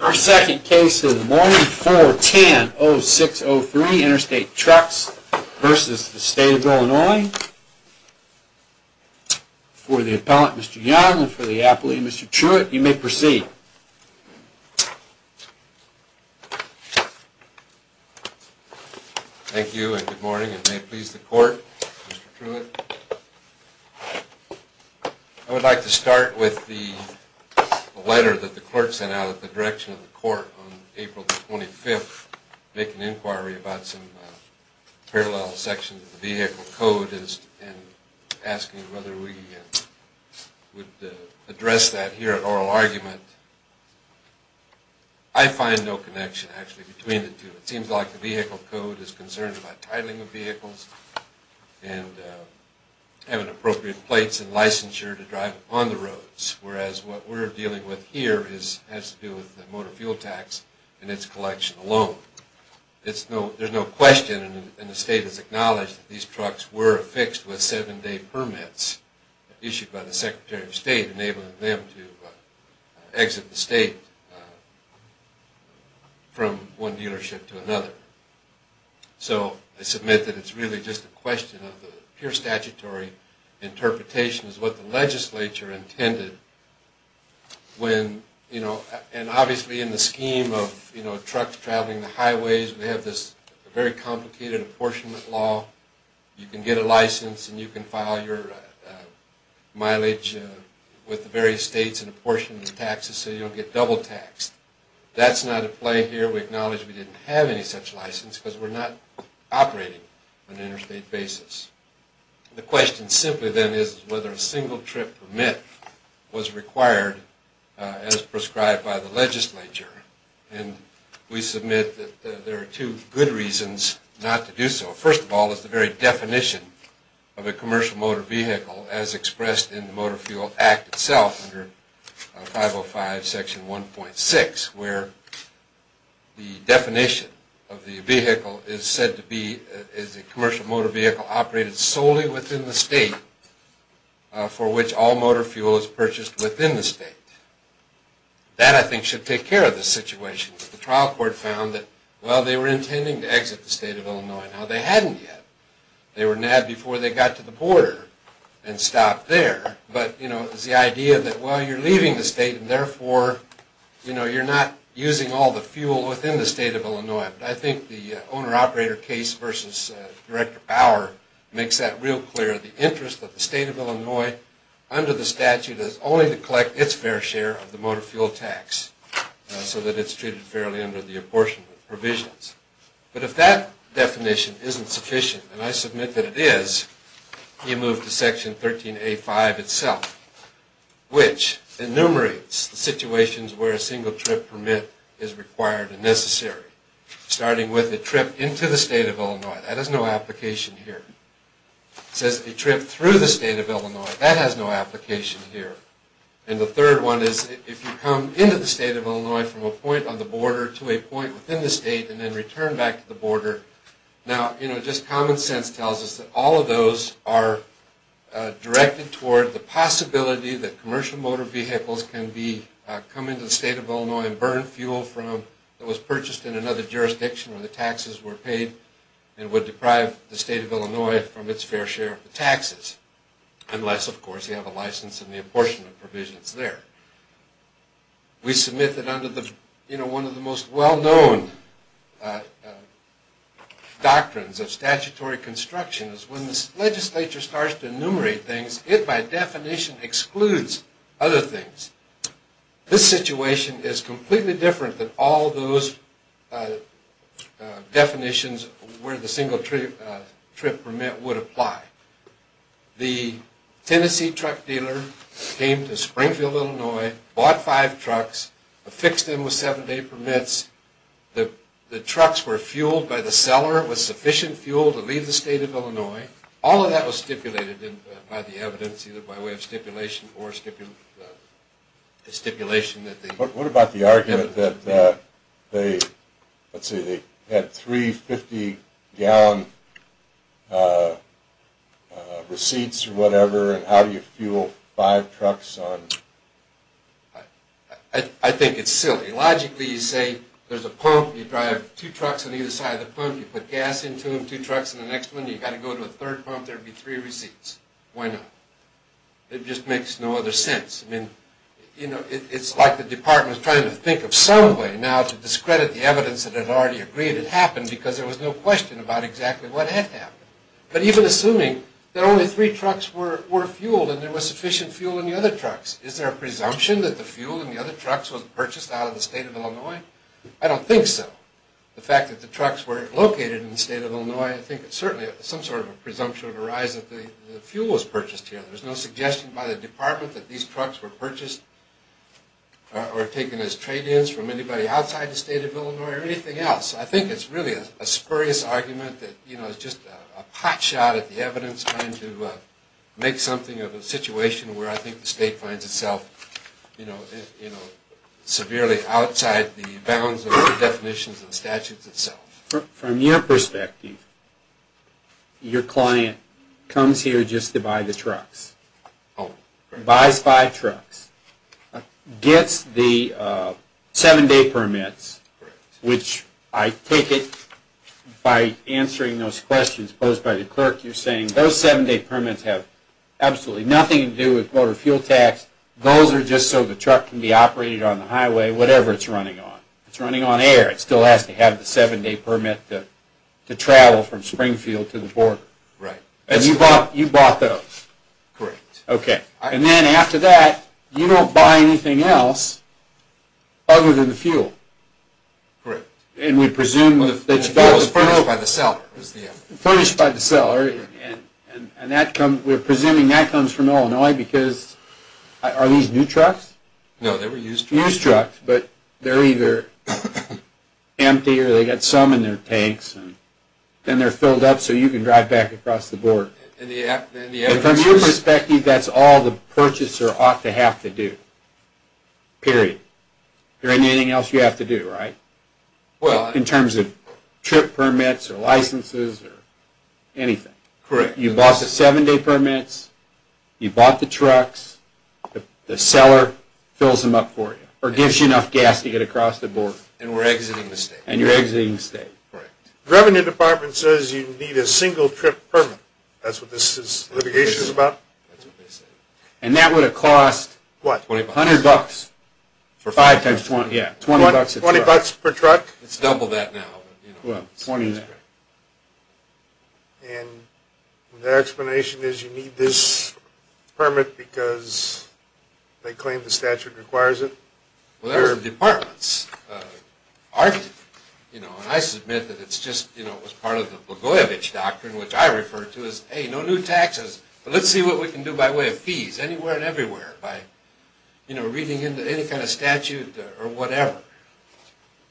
Our second case is Morning 410-0603, Interstate Trucks v. State of Illinois. For the appellant, Mr. Young, and for the appellee, Mr. Truitt, you may proceed. Thank you and good morning, and may it please the court, Mr. Truitt. I would like to start with the letter that the clerk sent out at the direction of the court on April 25th, making inquiry about some parallel sections of the vehicle code and asking whether we would address that here at oral argument. I find no connection, actually, between the two. It seems like the vehicle code is concerned about titling of vehicles and having appropriate plates and licensure to drive on the roads, whereas what we're dealing with here has to do with the motor fuel tax and its collection alone. There's no question and the state has acknowledged that these trucks were affixed with seven-day permits issued by the Secretary of State enabling them to exit the state from one dealership to another. So I submit that it's really just a question of pure statutory interpretation is what the legislature intended when, you know, and obviously in the scheme of, you know, trucks traveling the highways, we have this very complicated apportionment law. You can get a license and you can file your mileage with the various states and apportion the taxes so you don't get double taxed. That's not at play here. We acknowledge we didn't have any such license because we're not operating on an interstate basis. The question simply then is whether a single trip permit was required as prescribed by the legislature and we submit that there are two good reasons not to do so. First of all, it's the very definition of a commercial motor vehicle as expressed in the Motor Fuel Act itself under 505 section 1.6 where the definition of the vehicle is said to be, is a commercial motor vehicle operated solely within the state for which all motor fuel is purchased within the state. That I think should take care of the situation. The trial court found that, well, they were intending to exit the state of Illinois. Now they hadn't yet. They were mad before they got to the border and stopped there, but, you know, it's the idea that, well, you're leaving the state and therefore, you know, you're not using all the fuel within the state of Illinois. But I think the owner-operator case versus Director Bauer makes that real clear. The interest of the state of Illinois under the statute is only to collect its fair share of the motor fuel tax so that it's treated fairly under the apportionment provisions. But if that definition isn't sufficient, and I submit that it is, you move to section 13A5 itself which enumerates the situations where a single trip permit is required and necessary. Starting with a trip into the state of Illinois. That has no application here. It says a trip through the state of Illinois. That has no application here. And the third one is if you come into the state of Illinois from a point on the border to a point within the state and then return back to the border. Now, you know, just common sense tells us that all of those are directed toward the possibility that commercial motor vehicles can come into the state of Illinois and burn fuel that was purchased in another jurisdiction where the taxes were paid and would deprive the state of Illinois from its fair share of the taxes. Unless, of course, you have a license and the apportionment provisions there. We submit that under one of the most well-known doctrines of statutory construction is when the legislature starts to enumerate things, it by definition excludes other things. This situation is completely different than all those definitions where the single trip permit would apply. The Tennessee truck dealer came to Springfield, Illinois, bought five trucks, affixed them with seven-day permits. The trucks were fueled by the seller with sufficient fuel to leave the state of Illinois. All of that was stipulated by the evidence either by way of stipulation or stipulation. What about the argument that they had three 50-gallon receipts or whatever and how do you fuel five trucks? I think it's silly. Logically, you say there's a pump, you drive two trucks on either side of the pump, you put gas into them, two trucks in the next one, you've got to go to a third pump, there'd be three receipts. Why not? It just makes no other sense. I mean, it's like the department is trying to think of some way now to discredit the evidence that had already agreed it happened because there was no question about exactly what had happened. But even assuming that only three trucks were fueled and there was sufficient fuel in the other trucks, is there a presumption that the fuel in the other trucks was purchased out of the state of Illinois? I don't think so. The fact that the trucks were located in the state of Illinois, I think certainly some sort of a presumption would arise that the fuel was purchased here. There's no suggestion by the department that these trucks were purchased or taken as trade-ins from anybody outside the state of Illinois or anything else. I think it's really a spurious argument that, you know, it's just a hot shot at the evidence trying to make something of a situation where I think the state finds itself, you know, severely outside the bounds of the definitions and statutes itself. From your perspective, your client comes here just to buy the trucks, buys five trucks, gets the seven-day permits, which I take it by answering those questions posed by the clerk, you're saying those seven-day permits have absolutely nothing to do with motor fuel tax. Those are just so the truck can be operated on the highway, whatever it's running on. It's running on air. It still has to have the seven-day permit to travel from Springfield to the border. And you bought those? Correct. Okay. And then after that, you don't buy anything else other than the fuel? Correct. And we presume that the fuel is furnished by the seller? Furnished by the seller. And we're presuming that comes from Illinois because, are these new trucks? No, they were used trucks. Used trucks, but they're either empty or they've got some in their tanks. Then they're filled up so you can drive back across the border. And from your perspective, that's all the purchaser ought to have to do. Period. There anything else you have to do, right? Well, in terms of trip permits or licenses or anything. Correct. You bought the seven-day permits, you bought the trucks, the seller fills them up for you or gives you enough gas to get across the border. And we're exiting the state. And you're exiting the state. Correct. The Revenue Department says you need a single-trip permit. That's what this litigation is about? That's what they said. And that would have cost $100 for five times 20. $20 per truck? It's double that now. And their explanation is you need this permit because they claim the statute requires it? Well, there are departments arguing. You know, and I submit that it's just, you know, it was part of the Blagojevich Doctrine, which I refer to as, hey, no new taxes, but let's see what we can do by way of fees anywhere and everywhere by, you know, reading into any kind of statute or whatever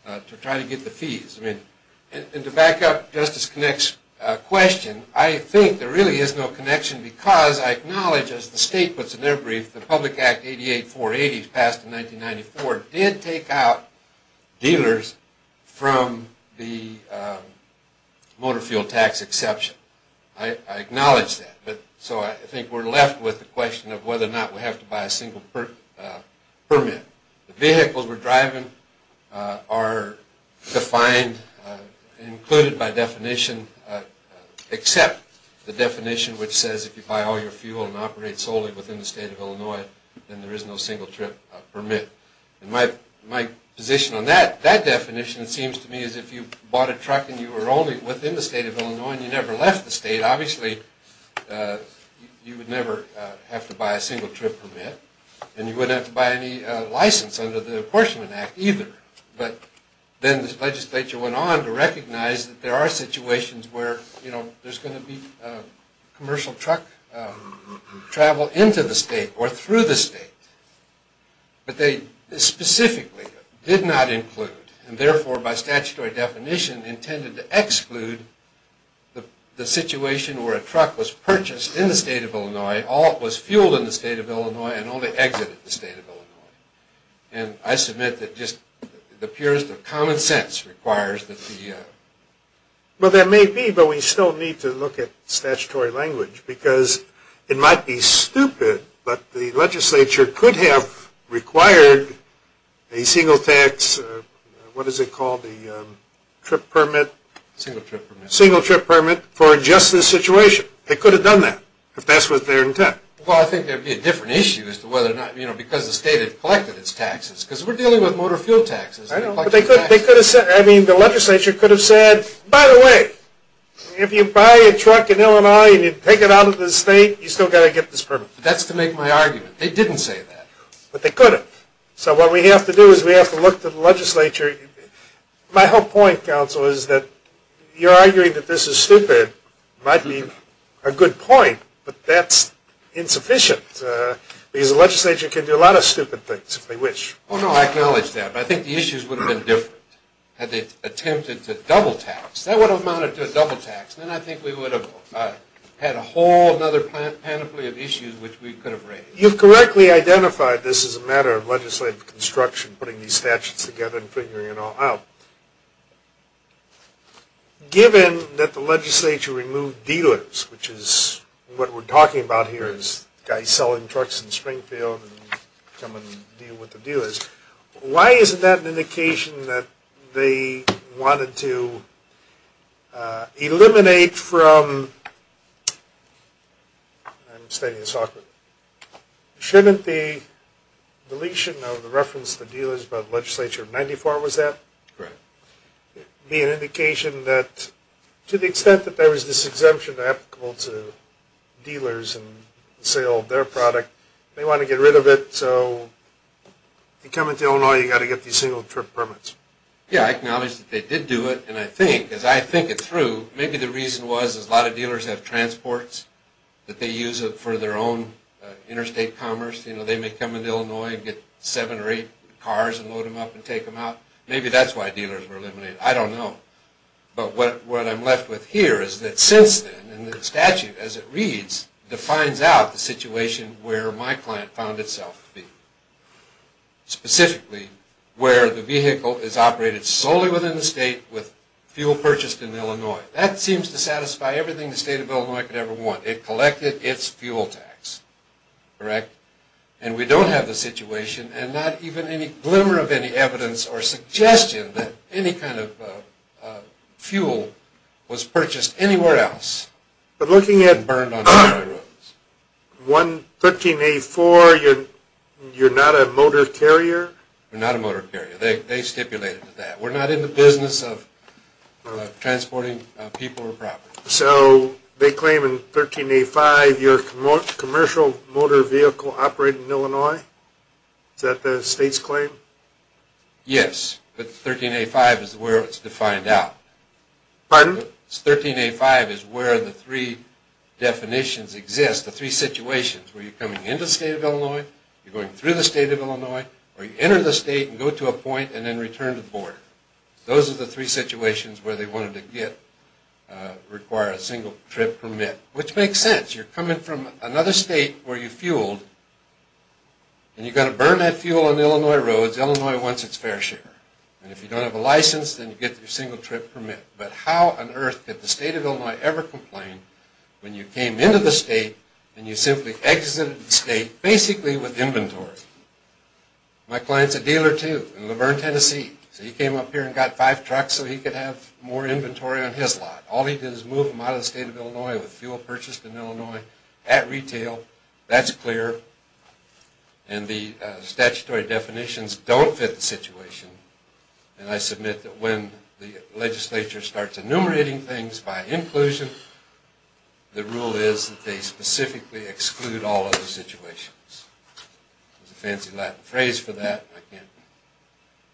to try to get the fees. And to back up Justice Connick's question, I think there really is no connection because I acknowledge, as the state puts in their brief, the Public Act 88-480 passed in 1994 did take out dealers from the motor fuel tax exception. I acknowledge that. So I think we're left with the question of whether or not we have to buy a single permit. The vehicles we're driving are defined, included by definition, except the definition which says if you buy all your fuel and operate solely within the state of Illinois, then there is no single-trip permit. And my position on that definition seems to me as if you bought a truck and you were only within the state of Illinois and you never left the state, obviously you would never have to buy a single-trip permit. And you wouldn't have to buy any license under the Apportionment Act either. But then the legislature went on to recognize that there are situations where, you know, there's going to be commercial truck travel into the state or through the state. But they specifically did not include, and therefore by statutory definition intended to exclude, the situation where a truck was purchased in the state of Illinois, all it was fueled in the state of Illinois, and only exited the state of Illinois. And I submit that just the purest of common sense requires that the... Well, there may be, but we still need to look at statutory language because it might be stupid, but the legislature could have required a single-tax, what is it called, the trip permit? Single-trip permit. Single-trip permit for just this situation. They could have done that if that's what their intent. Well, I think there would be a different issue as to whether or not, you know, because the state had collected its taxes. Because we're dealing with motor fuel taxes. I know, but they could have said, I mean, the legislature could have said, by the way, if you buy a truck in Illinois and you take it out of the state, you still got to get this permit. That's to make my argument. They didn't say that. But they could have. So what we have to do is we have to look to the legislature. My whole point, counsel, is that you're arguing that this is stupid. It might be a good point, but that's insufficient. Because the legislature can do a lot of stupid things if they wish. Oh, no, I acknowledge that. But I think the issues would have been different had they attempted to double-tax. That would have amounted to a double-tax. Then I think we would have had a whole other panoply of issues which we could have raised. You've correctly identified this as a matter of legislative construction, putting these statutes together and figuring it all out. Given that the legislature removed dealers, which is what we're talking about here is guys selling trucks in Springfield and come and deal with the dealers. Why isn't that an indication that they wanted to eliminate from – I'm stating this awkwardly – shouldn't the deletion of the reference to dealers by the legislature of 94, was that? Right. To the extent that there is this exemption applicable to dealers and the sale of their product, they want to get rid of it. So if you come into Illinois, you've got to get these single-trip permits. Yeah, I acknowledge that they did do it. And I think, as I think it through, maybe the reason was a lot of dealers have transports that they use for their own interstate commerce. They may come into Illinois and get seven or eight cars and load them up and take them out. Maybe that's why dealers were eliminated. I don't know. But what I'm left with here is that since then, and the statute as it reads, defines out the situation where my client found itself to be. Specifically, where the vehicle is operated solely within the state with fuel purchased in Illinois. That seems to satisfy everything the state of Illinois could ever want. It collected its fuel tax. Correct? And we don't have the situation and not even any glimmer of any evidence or suggestion that any kind of fuel was purchased anywhere else. But looking at 13A4, you're not a motor carrier? We're not a motor carrier. They stipulated that. We're not in the business of transporting people or property. So they claim in 13A5 you're a commercial motor vehicle operating in Illinois? Is that the state's claim? Yes. But 13A5 is where it's defined out. Pardon? 13A5 is where the three definitions exist. The three situations where you're coming into the state of Illinois, you're going through the state of Illinois, or you enter the state and go to a point and then return to the border. Those are the three situations where they wanted to require a single-trip permit, which makes sense. You're coming from another state where you fueled, and you've got to burn that fuel on Illinois roads. Illinois wants its fair share. And if you don't have a license, then you get your single-trip permit. But how on earth did the state of Illinois ever complain when you came into the state and you simply exited the state basically with inventory? My client's a dealer, too, in Luverne, Tennessee. So he came up here and got five trucks so he could have more inventory on his lot. All he did was move them out of the state of Illinois with fuel purchased in Illinois at retail. That's clear. And the statutory definitions don't fit the situation. And I submit that when the legislature starts enumerating things by inclusion, the rule is that they specifically exclude all other situations. There's a fancy Latin phrase for that. I can't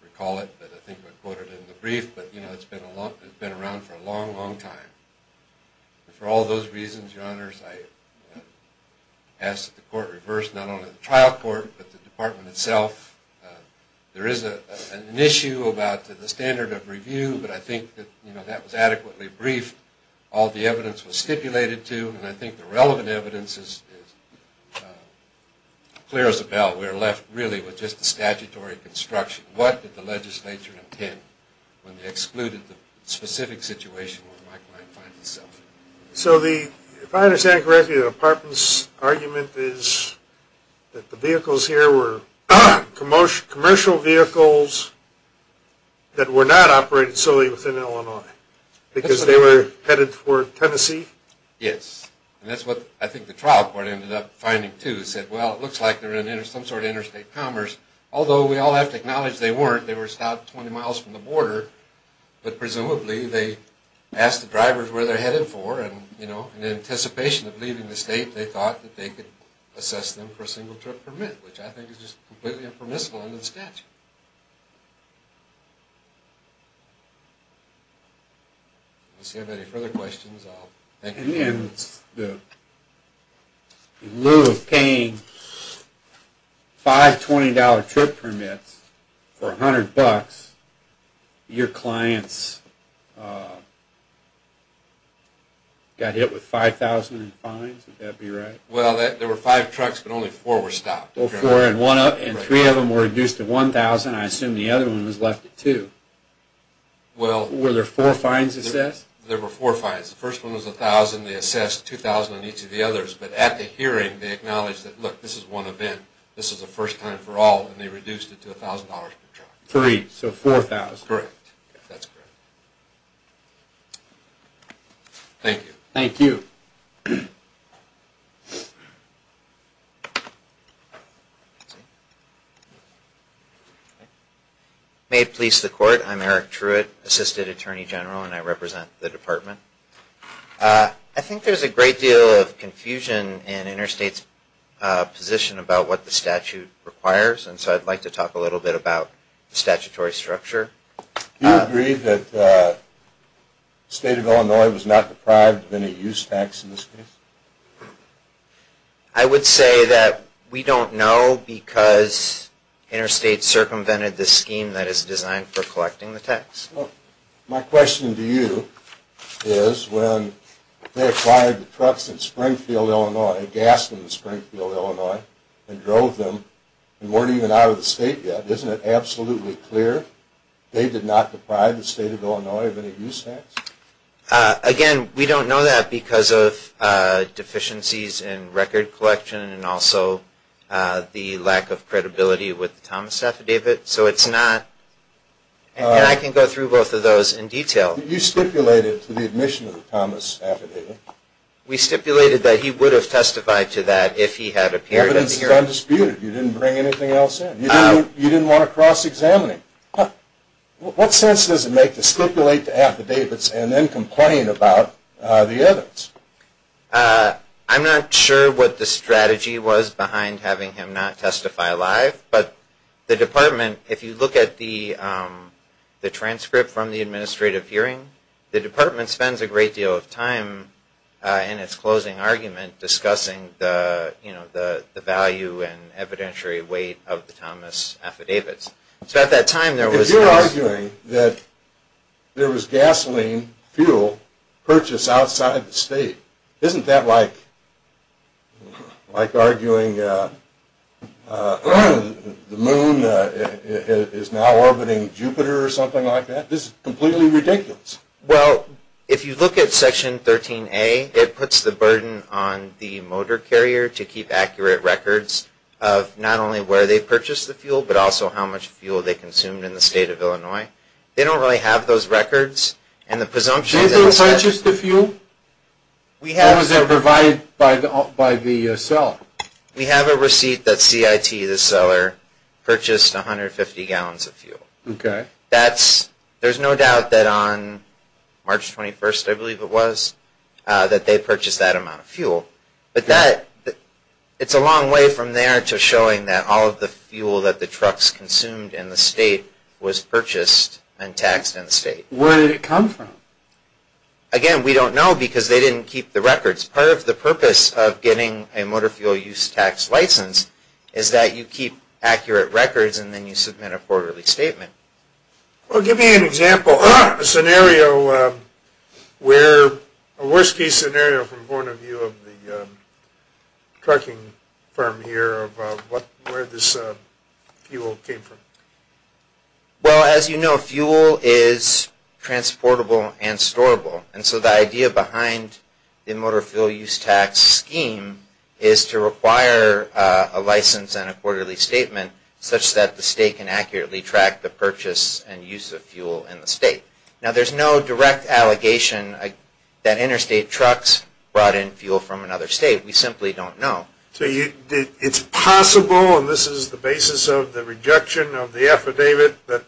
recall it, but I think I quoted it in the brief. But, you know, it's been around for a long, long time. And for all those reasons, your honors, I ask that the court reverse not only the trial court but the department itself. There is an issue about the standard of review, but I think that, you know, that was adequately briefed. All the evidence was stipulated to, and I think the relevant evidence is clear as a bell. We're left really with just the statutory construction. What did the legislature intend when they excluded the specific situation where Mike might find himself? So if I understand correctly, the department's argument is that the vehicles here were commercial vehicles that were not operated solely within Illinois because they were headed for Tennessee? Yes. And that's what I think the trial court ended up finding too. It said, well, it looks like they're in some sort of interstate commerce. Although we all have to acknowledge they weren't. They were about 20 miles from the border. But presumably they asked the drivers where they're headed for. And, you know, in anticipation of leaving the state, they thought that they could assess them for a single-trip permit, which I think is just completely impermissible under the statute. Unless you have any further questions, I'll thank you. And in lieu of paying $520 trip permits for $100, your clients got hit with $5,000 in fines? Would that be right? Well, there were five trucks, but only four were stopped. And three of them were reduced to $1,000. I assume the other one was left at $2,000. Were there four fines assessed? There were four fines. The first one was $1,000. They assessed $2,000 on each of the others. But at the hearing, they acknowledged that, look, this is one event. This is the first time for all. And they reduced it to $1,000 per truck. Three, so $4,000. Correct. That's correct. Thank you. Thank you. May it please the Court. I'm Eric Truitt, Assistant Attorney General, and I represent the department. I think there's a great deal of confusion in Interstate's position about what the statute requires, and so I'd like to talk a little bit about the statutory structure. Do you agree that the State of Illinois was not deprived of any use tax in this case? I would say that we don't know because Interstate circumvented the scheme that is designed for collecting the tax. Well, my question to you is when they acquired the trucks in Springfield, Illinois, gas in Springfield, Illinois, and drove them and weren't even out of the state yet, isn't it absolutely clear they did not deprive the State of Illinois of any use tax? Again, we don't know that because of deficiencies in record collection and also the lack of credibility with the Thomas affidavit. So it's not – and I can go through both of those in detail. You stipulated to the admission of the Thomas affidavit. We stipulated that he would have testified to that if he had appeared at the hearing. The evidence is undisputed. You didn't bring anything else in. You didn't want to cross-examine him. What sense does it make to stipulate the affidavits and then complain about the evidence? I'm not sure what the strategy was behind having him not testify live, but the department, if you look at the transcript from the administrative hearing, the department spends a great deal of time in its closing argument discussing the value and evidentiary weight of the Thomas affidavits. If you're arguing that there was gasoline fuel purchased outside the state, isn't that like arguing the moon is now orbiting Jupiter or something like that? This is completely ridiculous. Well, if you look at Section 13A, it puts the burden on the motor carrier to keep accurate records of not only where they purchased the fuel but also how much fuel they consumed in the state of Illinois. They don't really have those records. Did they purchase the fuel? Or was it provided by the seller? We have a receipt that CIT, the seller, purchased 150 gallons of fuel. Okay. There's no doubt that on March 21st, I believe it was, that they purchased that amount of fuel. But it's a long way from there to showing that all of the fuel that the trucks consumed in the state was purchased and taxed in the state. Where did it come from? Again, we don't know because they didn't keep the records. Part of the purpose of getting a motor fuel use tax license is that you keep accurate records and then you submit a quarterly statement. Well, give me an example, a scenario where, a worst case scenario from the point of view of the trucking firm here, of where this fuel came from. Well, as you know, fuel is transportable and storable. And so the idea behind the motor fuel use tax scheme is to require a license and a quarterly statement such that the state can accurately track the purchase and use of fuel in the state. Now, there's no direct allegation that interstate trucks brought in fuel from another state. We simply don't know. So it's possible, and this is the basis of the rejection of the affidavit, that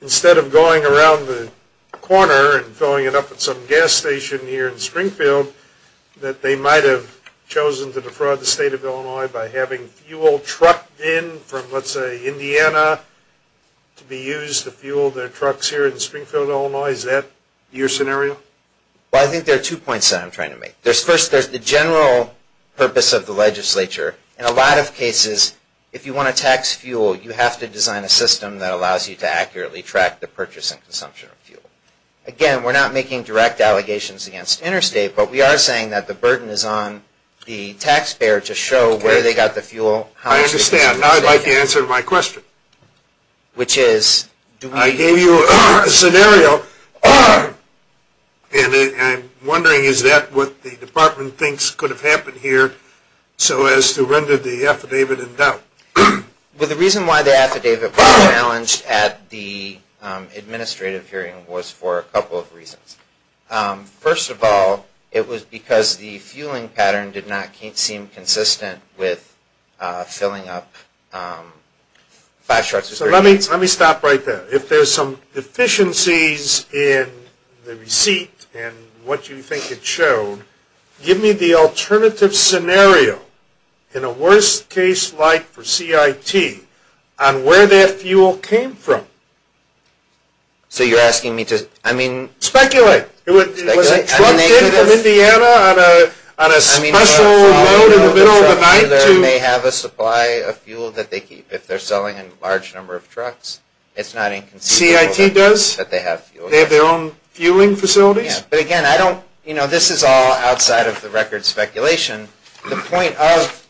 instead of going around the corner and filling it up at some gas station here in Springfield, that they might have chosen to defraud the state of Illinois by having fuel trucked in from, let's say, Indiana to be used to fuel their trucks here in Springfield, Illinois. Is that your scenario? Well, I think there are two points that I'm trying to make. First, there's the general purpose of the legislature. In a lot of cases, if you want to tax fuel, you have to design a system that allows you to accurately track the purchase and consumption of fuel. Again, we're not making direct allegations against interstate, but we are saying that the burden is on the taxpayer to show where they got the fuel. I understand. Now I'd like the answer to my question. Which is? I gave you a scenario, and I'm wondering, is that what the department thinks could have happened here so as to render the affidavit in doubt? Well, the reason why the affidavit was challenged at the administrative hearing was for a couple of reasons. First of all, it was because the fueling pattern did not seem consistent with filling up five trucks. So let me stop right there. If there's some deficiencies in the receipt and what you think it showed, give me the alternative scenario, in a worst-case light for CIT, on where that fuel came from. So you're asking me to, I mean... Speculate. Was it trucked in from Indiana on a special load in the middle of the night to... They may have a supply of fuel that they keep. If they're selling a large number of trucks, it's not inconceivable that they have fuel. CIT does? They have their own fueling facilities? Yeah, but again, I don't, you know, this is all outside of the record speculation. The point of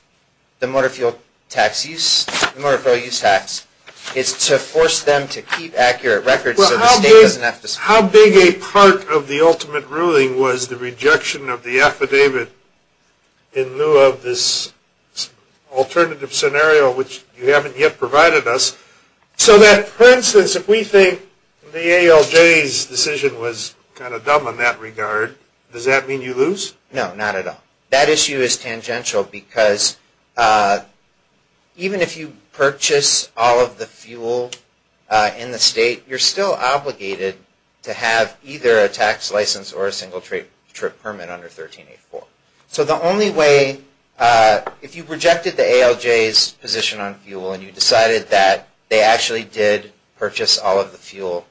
the motor fuel tax use, the motor fuel use tax, is to force them to keep accurate records so the state doesn't have to... How big a part of the ultimate ruling was the rejection of the affidavit in lieu of this alternative scenario, which you haven't yet provided us, So that, for instance, if we think the ALJ's decision was kind of dumb in that regard, does that mean you lose? No, not at all. That issue is tangential because even if you purchase all of the fuel in the state, you're still obligated to have either a tax license or a single-trip permit under 1384. So the only way, if you rejected the ALJ's position on fuel and you decided that they actually did purchase all of the fuel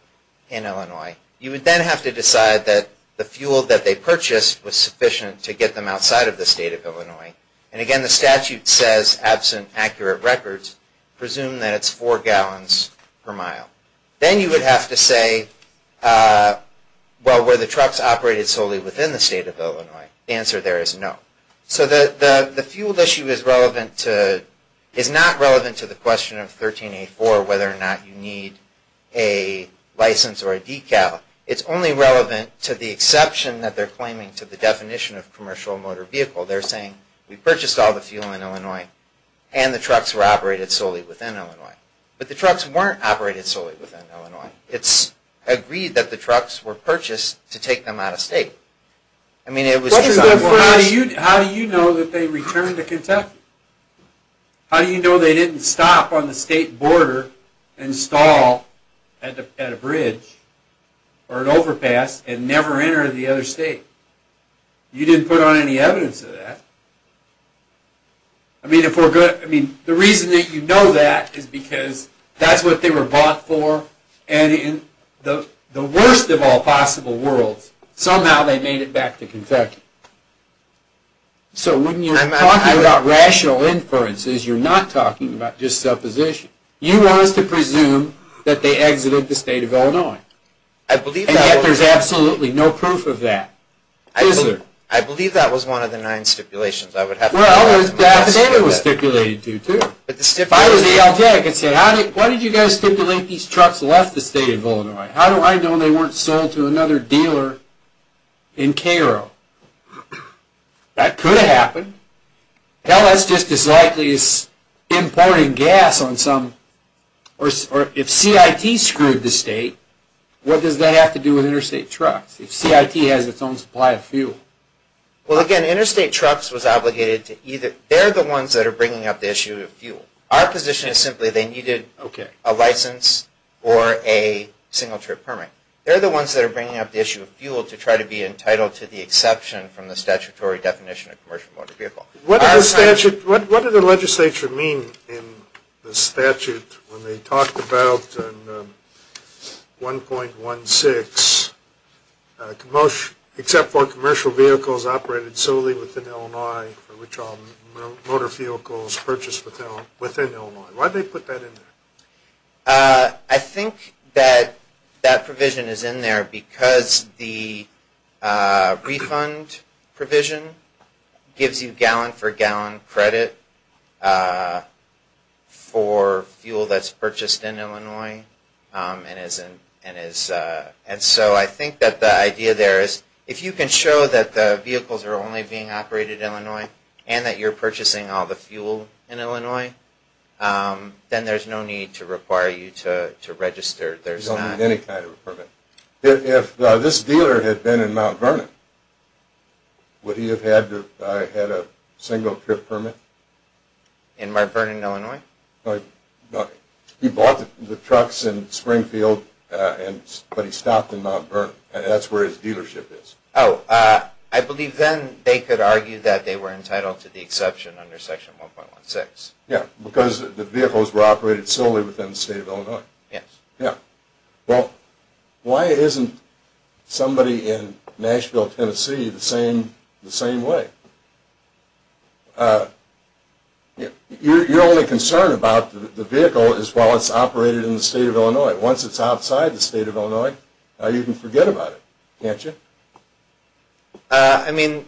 in Illinois, you would then have to decide that the fuel that they purchased was sufficient to get them outside of the state of Illinois. And again, the statute says, absent accurate records, presume that it's four gallons per mile. Then you would have to say, well, were the trucks operated solely within the state of Illinois? The answer there is no. So the fuel issue is not relevant to the question of 1384, whether or not you need a license or a decal. It's only relevant to the exception that they're claiming to the definition of commercial motor vehicle. They're saying, we purchased all the fuel in Illinois and the trucks were operated solely within Illinois. But the trucks weren't operated solely within Illinois. It's agreed that the trucks were purchased to take them out of state. How do you know that they returned to Kentucky? How do you know they didn't stop on the state border and stall at a bridge or an overpass and never enter the other state? You didn't put on any evidence of that. The reason that you know that is because that's what they were bought for. And in the worst of all possible worlds, somehow they made it back to Kentucky. So when you're talking about rational inferences, you're not talking about just supposition. You want us to presume that they exited the state of Illinois. And yet there's absolutely no proof of that, is there? I believe that was one of the nine stipulations I would have to go back and look at. Well, that's what it was stipulated to, too. If I was the LT, I could say, why did you guys stipulate these trucks left the state of Illinois? How do I know they weren't sold to another dealer in Cairo? That could have happened. Hell, that's just as likely as importing gas on some... If CIT screwed the state, what does that have to do with interstate trucks? If CIT has its own supply of fuel? Well, again, interstate trucks was obligated to either... Our position is simply they needed a license or a single-trip permit. They're the ones that are bringing up the issue of fuel to try to be entitled to the exception from the statutory definition of commercial motor vehicle. What did the legislature mean in the statute when they talked about 1.16? Except for commercial vehicles operated solely within Illinois, for which all motor vehicles purchased within Illinois. Why'd they put that in there? I think that that provision is in there because the refund provision gives you gallon for gallon credit for fuel that's purchased in Illinois. And so I think that the idea there is, if you can show that the vehicles are only being operated in Illinois and that you're purchasing all the fuel in Illinois, then there's no need to require you to register. There's not any kind of permit. If this dealer had been in Mount Vernon, would he have had a single-trip permit? In Mount Vernon, Illinois? He bought the trucks in Springfield, but he stopped in Mount Vernon. That's where his dealership is. Oh, I believe then they could argue that they were entitled to the exception under Section 1.16. Yeah, because the vehicles were operated solely within the state of Illinois. Yes. Yeah. Well, why isn't somebody in Nashville, Tennessee the same way? Your only concern about the vehicle is while it's operated in the state of Illinois. Once it's outside the state of Illinois, you can forget about it, can't you? I mean,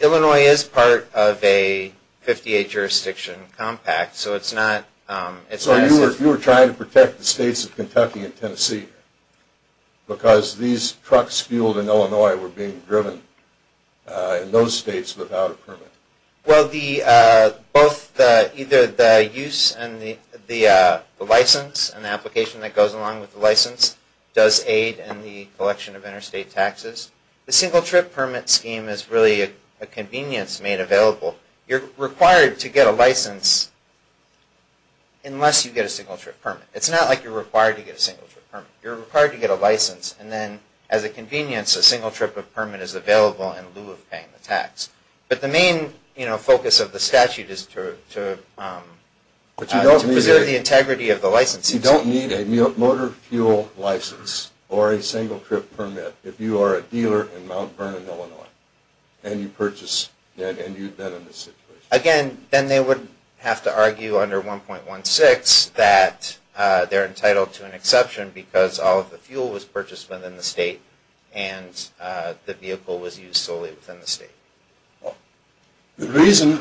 Illinois is part of a 58-jurisdiction compact, so it's not... So you were trying to protect the states of Kentucky and Tennessee because these trucks fueled in Illinois were being driven in those states without a permit. Well, either the use and the license and the application that goes along with the license does aid in the collection of interstate taxes. The single-trip permit scheme is really a convenience made available. You're required to get a license unless you get a single-trip permit. It's not like you're required to get a single-trip permit. You're required to get a license, and then as a convenience, a single-trip permit is available in lieu of paying the tax. But the main focus of the statute is to preserve the integrity of the license. But you don't need a motor fuel license or a single-trip permit if you are a dealer in Mount Vernon, Illinois, and you've been in this situation. Again, then they would have to argue under 1.16 that they're entitled to an exception because all of the fuel was purchased within the state and the vehicle was used solely within the state. The reason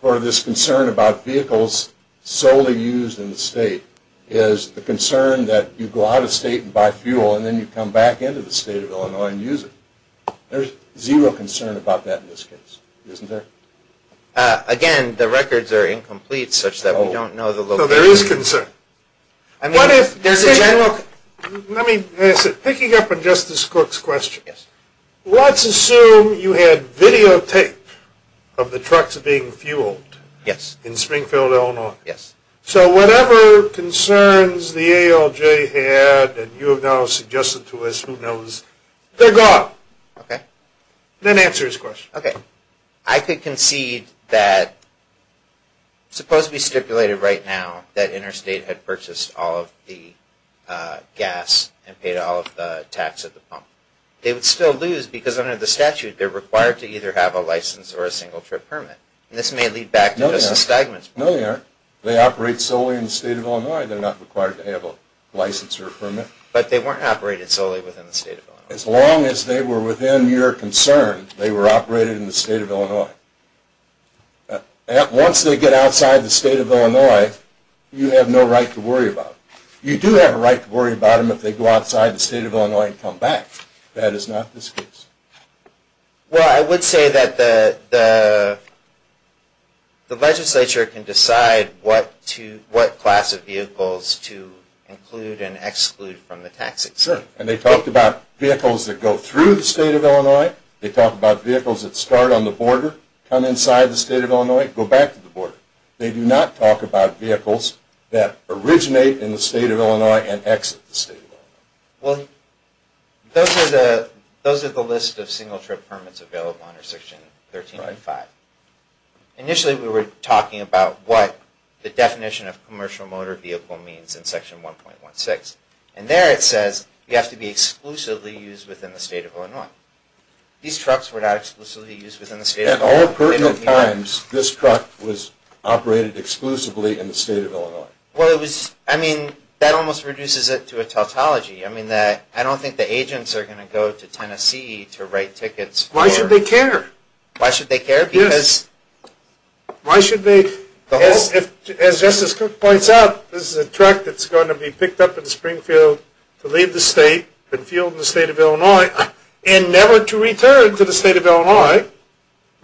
for this concern about vehicles solely used in the state is the concern that you go out of state and buy fuel and then you come back into the state of Illinois and use it. There's zero concern about that in this case, isn't there? Again, the records are incomplete such that we don't know the location. What is his concern? Let me ask it. Picking up on Justice Cook's question, let's assume you had videotaped of the trucks being fueled in Springfield, Illinois. So whatever concerns the ALJ had, and you have now suggested to us, who knows, they're gone. Then answer his question. I could concede that, supposedly stipulated right now, that Interstate had purchased all of the gas and paid all of the tax at the pump. They would still lose because under the statute, they're required to either have a license or a single-trip permit. This may lead back to Justice Steigman's point. No, they aren't. They operate solely in the state of Illinois. They're not required to have a license or a permit. But they weren't operated solely within the state of Illinois. As long as they were within your concern, they were operated in the state of Illinois. Once they get outside the state of Illinois, you have no right to worry about them. You do have a right to worry about them if they go outside the state of Illinois and come back. That is not the case. Well, I would say that the legislature can decide what class of vehicles to include and exclude from the tax exempt. Sure. And they talked about vehicles that go through the state of Illinois. They talk about vehicles that start on the border, come inside the state of Illinois, go back to the border. They do not talk about vehicles that originate in the state of Illinois and exit the state of Illinois. Well, those are the list of single-trip permits available under Section 13.5. Initially, we were talking about what the definition of commercial motor vehicle means in Section 1.16. And there it says you have to be exclusively used within the state of Illinois. These trucks were not exclusively used within the state of Illinois. At all pertinent times, this truck was operated exclusively in the state of Illinois. I mean, that almost reduces it to a tautology. I mean, I don't think the agents are going to go to Tennessee to write tickets. Why should they care? Why should they care? Why should they? As Justice Cook points out, this is a truck that's going to be picked up in Springfield to leave the state and field in the state of Illinois and never to return to the state of Illinois.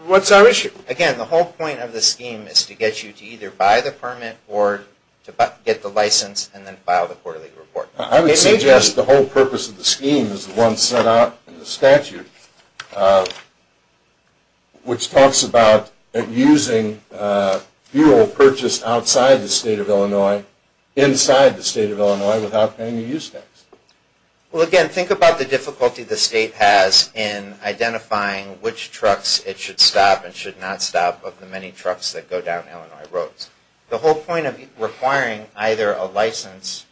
What's our issue? Again, the whole point of the scheme is to get you to either buy the permit or to get the license and then file the quarterly report. I would suggest the whole purpose of the scheme is the one set out in the statute, which talks about using fuel purchased outside the state of Illinois inside the state of Illinois without paying the use tax. Well, again, think about the difficulty the state has in identifying which trucks it should stop and should not stop of the many trucks that go down Illinois roads. The whole point of requiring either a license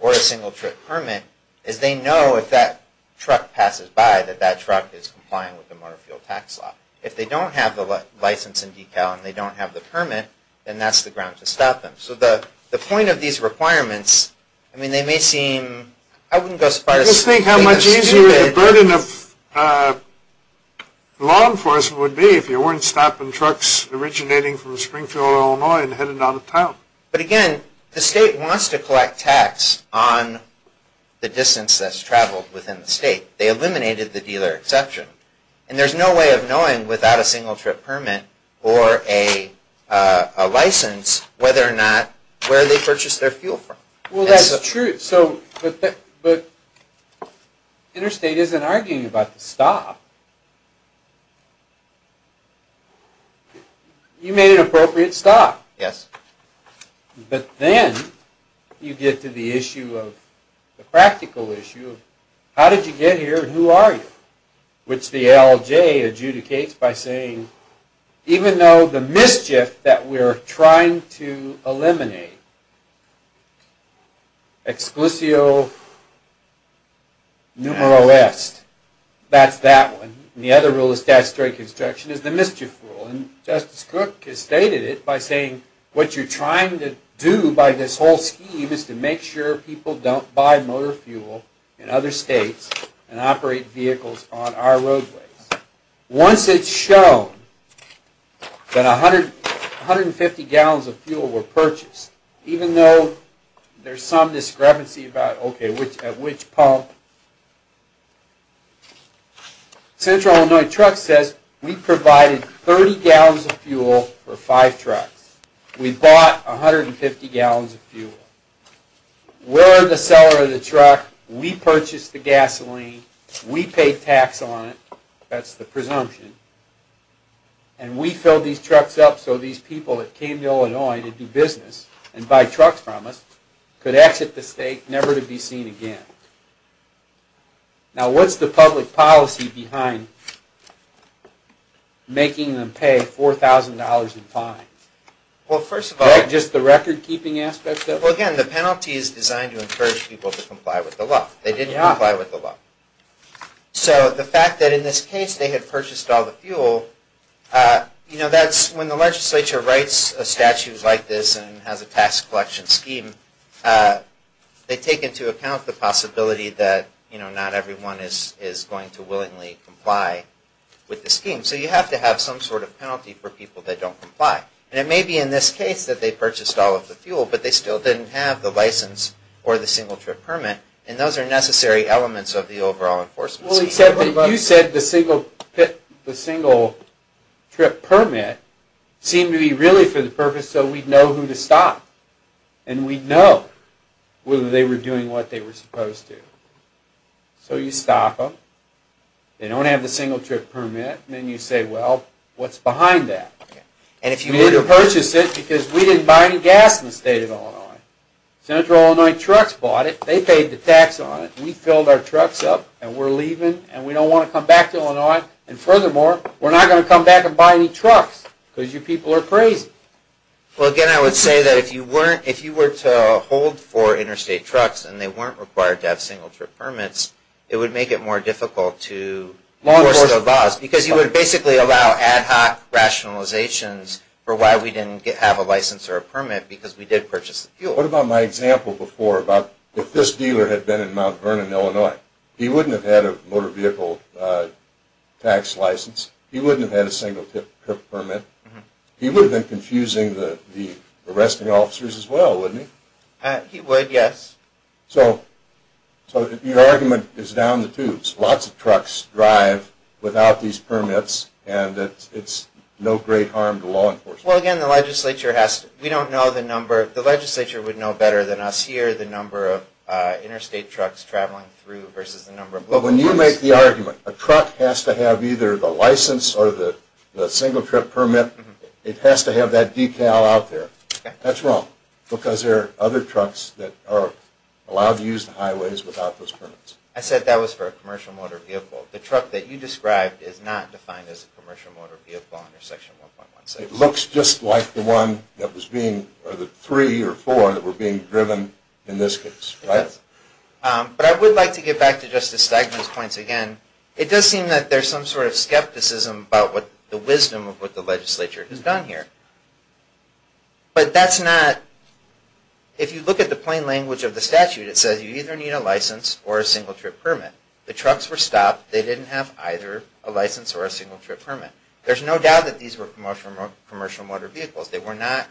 or a single-trip permit is they know if that truck passes by that that truck is complying with the motor fuel tax law. If they don't have the license and decal and they don't have the permit, then that's the ground to stop them. So the point of these requirements, I mean, they may seem... I wouldn't go as far as... Just think how much easier the burden of law enforcement would be if you weren't stopping trucks originating from Springfield, Illinois and headed out of town. But again, the state wants to collect tax on the distance that's traveled within the state. They eliminated the dealer exception. And there's no way of knowing without a single-trip permit or a license whether or not where they purchased their fuel from. Well, that's true, but Interstate isn't arguing about the stop. You made an appropriate stop. Yes. But then you get to the issue of... the practical issue of how did you get here and who are you? Which the LJ adjudicates by saying, even though the mischief that we're trying to eliminate, exclusio numero est, that's that one. And the other rule of statutory construction is the mischief rule. And Justice Cook has stated it by saying, what you're trying to do by this whole scheme is to make sure people don't buy motor fuel in other states and operate vehicles on our roadways. Once it's shown that 150 gallons of fuel were purchased, even though there's some discrepancy about at which pump, Central Illinois Trucks says, we provided 30 gallons of fuel for 5 trucks. We bought 150 gallons of fuel. We're the seller of the truck. We purchased the gasoline. We paid tax on it. That's the presumption. And we filled these trucks up so these people that came to Illinois to do business and buy trucks from us could exit the state never to be seen again. Now, what's the public policy behind making them pay $4,000 in fines? Is that just the record-keeping aspect of it? Well, again, the penalty is designed to encourage people to comply with the law. They didn't comply with the law. So the fact that in this case they had purchased all the fuel, you know, that's when the legislature writes a statute like this and has a tax collection scheme, they take into account the possibility that, you know, not everyone is going to willingly comply with the scheme. So you have to have some sort of penalty for people that don't comply. And it may be in this case that they purchased all of the fuel, but they still didn't have the license or the single-trip permit, and those are necessary elements of the overall enforcement scheme. Well, you said the single-trip permit seemed to be really for the purpose so we'd know who to stop. And we'd know whether they were doing what they were supposed to. So you stop them. They don't have the single-trip permit. And then you say, well, what's behind that? You need to purchase it because we didn't buy any gas in the state of Illinois. Central Illinois Trucks bought it. They paid the tax on it. We filled our trucks up, and we're leaving, and we don't want to come back to Illinois. And furthermore, we're not going to come back and buy any trucks because your people are crazy. Well, again, I would say that if you were to hold for interstate trucks and they weren't required to have single-trip permits, it would make it more difficult to enforce the laws because you would basically allow ad hoc rationalizations for why we didn't have a license or a permit because we did purchase the fuel. What about my example before about if this dealer had been in Mount Vernon, Illinois, he wouldn't have had a motor vehicle tax license. He wouldn't have had a single-trip permit. He would have been confusing the arresting officers as well, wouldn't he? He would, yes. So your argument is down the tubes. Lots of trucks drive without these permits, and it's no great harm to law enforcement. Well, again, the legislature has to – we don't know the number. The legislature would know better than us here the number of interstate trucks traveling through versus the number of local buses. But when you make the argument a truck has to have either the license or the single-trip permit, it has to have that decal out there, that's wrong because there are other trucks that are allowed to use the highways without those permits. I said that was for a commercial motor vehicle. The truck that you described is not defined as a commercial motor vehicle under Section 1.16. It looks just like the one that was being – or the three or four that were being driven in this case, right? But I would like to get back to Justice Steigman's points again. It does seem that there's some sort of skepticism about the wisdom of what the legislature has done here. But that's not – if you look at the plain language of the statute, it says you either need a license or a single-trip permit. The trucks were stopped. They didn't have either a license or a single-trip permit. There's no doubt that these were commercial motor vehicles. They were not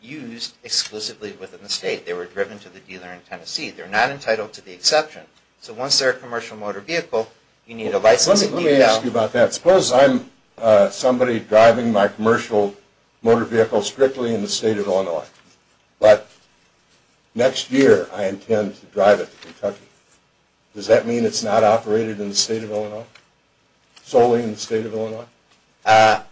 used exclusively within the state. They were driven to the dealer in Tennessee. They're not entitled to the exception. So once they're a commercial motor vehicle, you need a license. Let me ask you about that. Suppose I'm somebody driving my commercial motor vehicle strictly in the state of Illinois, but next year I intend to drive it to Kentucky. Does that mean it's not operated in the state of Illinois, solely in the state of Illinois? No.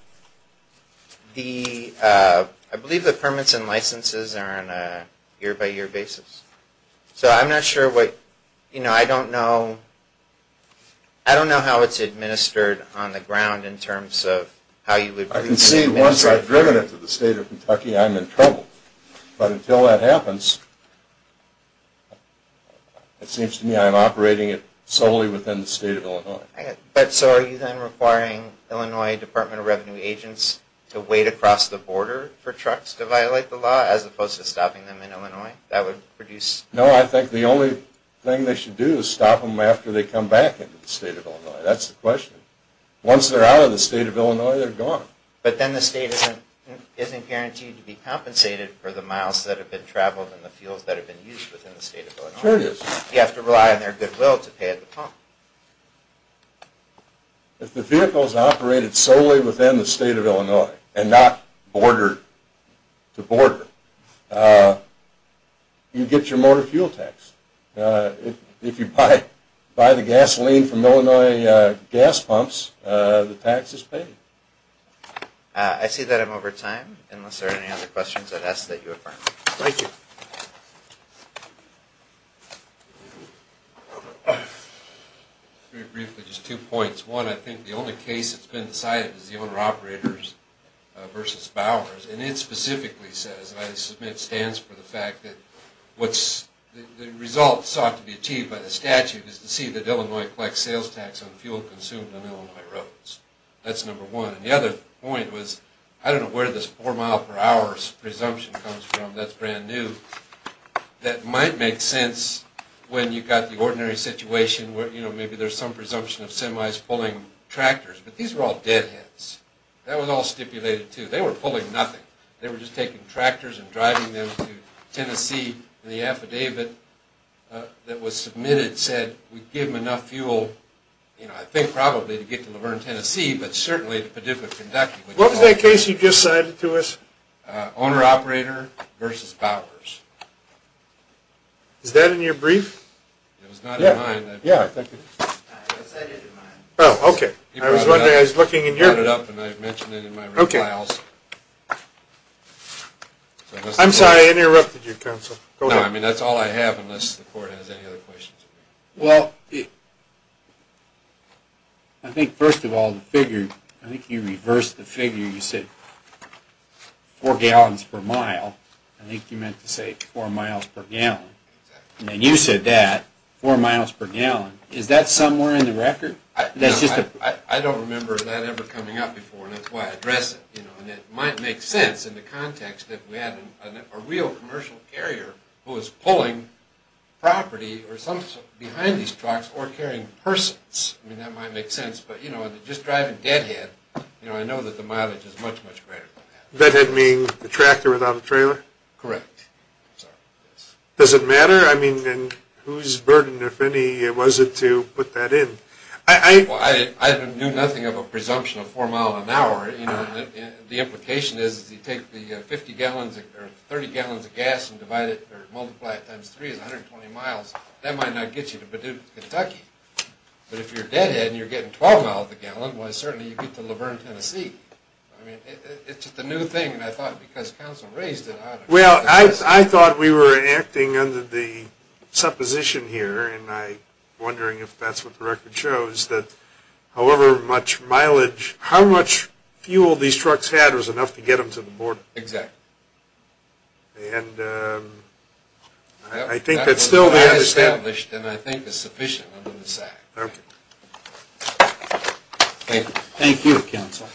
I believe the permits and licenses are on a year-by-year basis. So I'm not sure what – I don't know how it's administered on the ground in terms of how you would – I can see once I've driven it to the state of Kentucky, I'm in trouble. But until that happens, it seems to me I'm operating it solely within the state of Illinois. But so are you then requiring Illinois Department of Revenue agents to wait across the border for trucks to violate the law as opposed to stopping them in Illinois? That would produce – No, I think the only thing they should do is stop them after they come back into the state of Illinois. That's the question. Once they're out of the state of Illinois, they're gone. But then the state isn't guaranteed to be compensated for the miles that have been traveled and the fuels that have been used within the state of Illinois. Sure it is. You have to rely on their goodwill to pay the pump. If the vehicle is operated solely within the state of Illinois and not bordered to border, you get your motor fuel tax. If you buy the gasoline from Illinois gas pumps, the tax is paid. I see that I'm over time. Unless there are any other questions, I'd ask that you affirm. Thank you. Very briefly, just two points. One, I think the only case that's been decided is the owner-operators versus Bowers. And it specifically says, and I submit it stands for the fact that what's – the result sought to be achieved by the statute is to see that Illinois collects sales tax on fuel consumed on Illinois roads. That's number one. And the other point was, I don't know where this four-mile-per-hour presumption comes from. That's brand new. That might make sense when you've got the ordinary situation where, you know, maybe there's some presumption of semis pulling tractors. But these were all deadheads. That was all stipulated, too. They were pulling nothing. They were just taking tractors and driving them to Tennessee. And the affidavit that was submitted said we'd give them enough fuel, you know, I think probably to get to Luverne, Tennessee, but certainly to Paducah, Kentucky. What was that case you just cited to us? Owner-operator versus Bowers. Is that in your brief? It was not in mine. Yeah, I think it is. Oh, okay. I was wondering. I was looking in your – You brought it up and I mentioned it in my replies. I'm sorry I interrupted you, Counsel. No, I mean that's all I have unless the court has any other questions. Well, I think first of all the figure, I think you reversed the figure. You said four gallons per mile. I think you meant to say four miles per gallon. And then you said that, four miles per gallon. Is that somewhere in the record? I don't remember that ever coming up before, and that's why I address it. And it might make sense in the context that we had a real commercial carrier who was pulling property behind these trucks or carrying persons. I mean that might make sense. But just driving deadhead, I know that the mileage is much, much greater than that. Deadhead means the tractor without the trailer? Correct. Does it matter? I mean, whose burden, if any, was it to put that in? I knew nothing of a presumption of four miles an hour. The implication is if you take the 30 gallons of gas and multiply it times three, it's 120 miles. That might not get you to Paducah, Kentucky. But if you're deadhead and you're getting 12 miles a gallon, well, certainly you get to Luverne, Tennessee. It's just a new thing, and I thought because Counsel raised it. Well, I thought we were acting under the supposition here, and I'm wondering if that's what the record shows, that however much mileage, how much fuel these trucks had was enough to get them to the border. Exactly. And I think that still they understand. That's what I established and I think is sufficient under this Act. Okay. Thank you. Thank you, Counsel.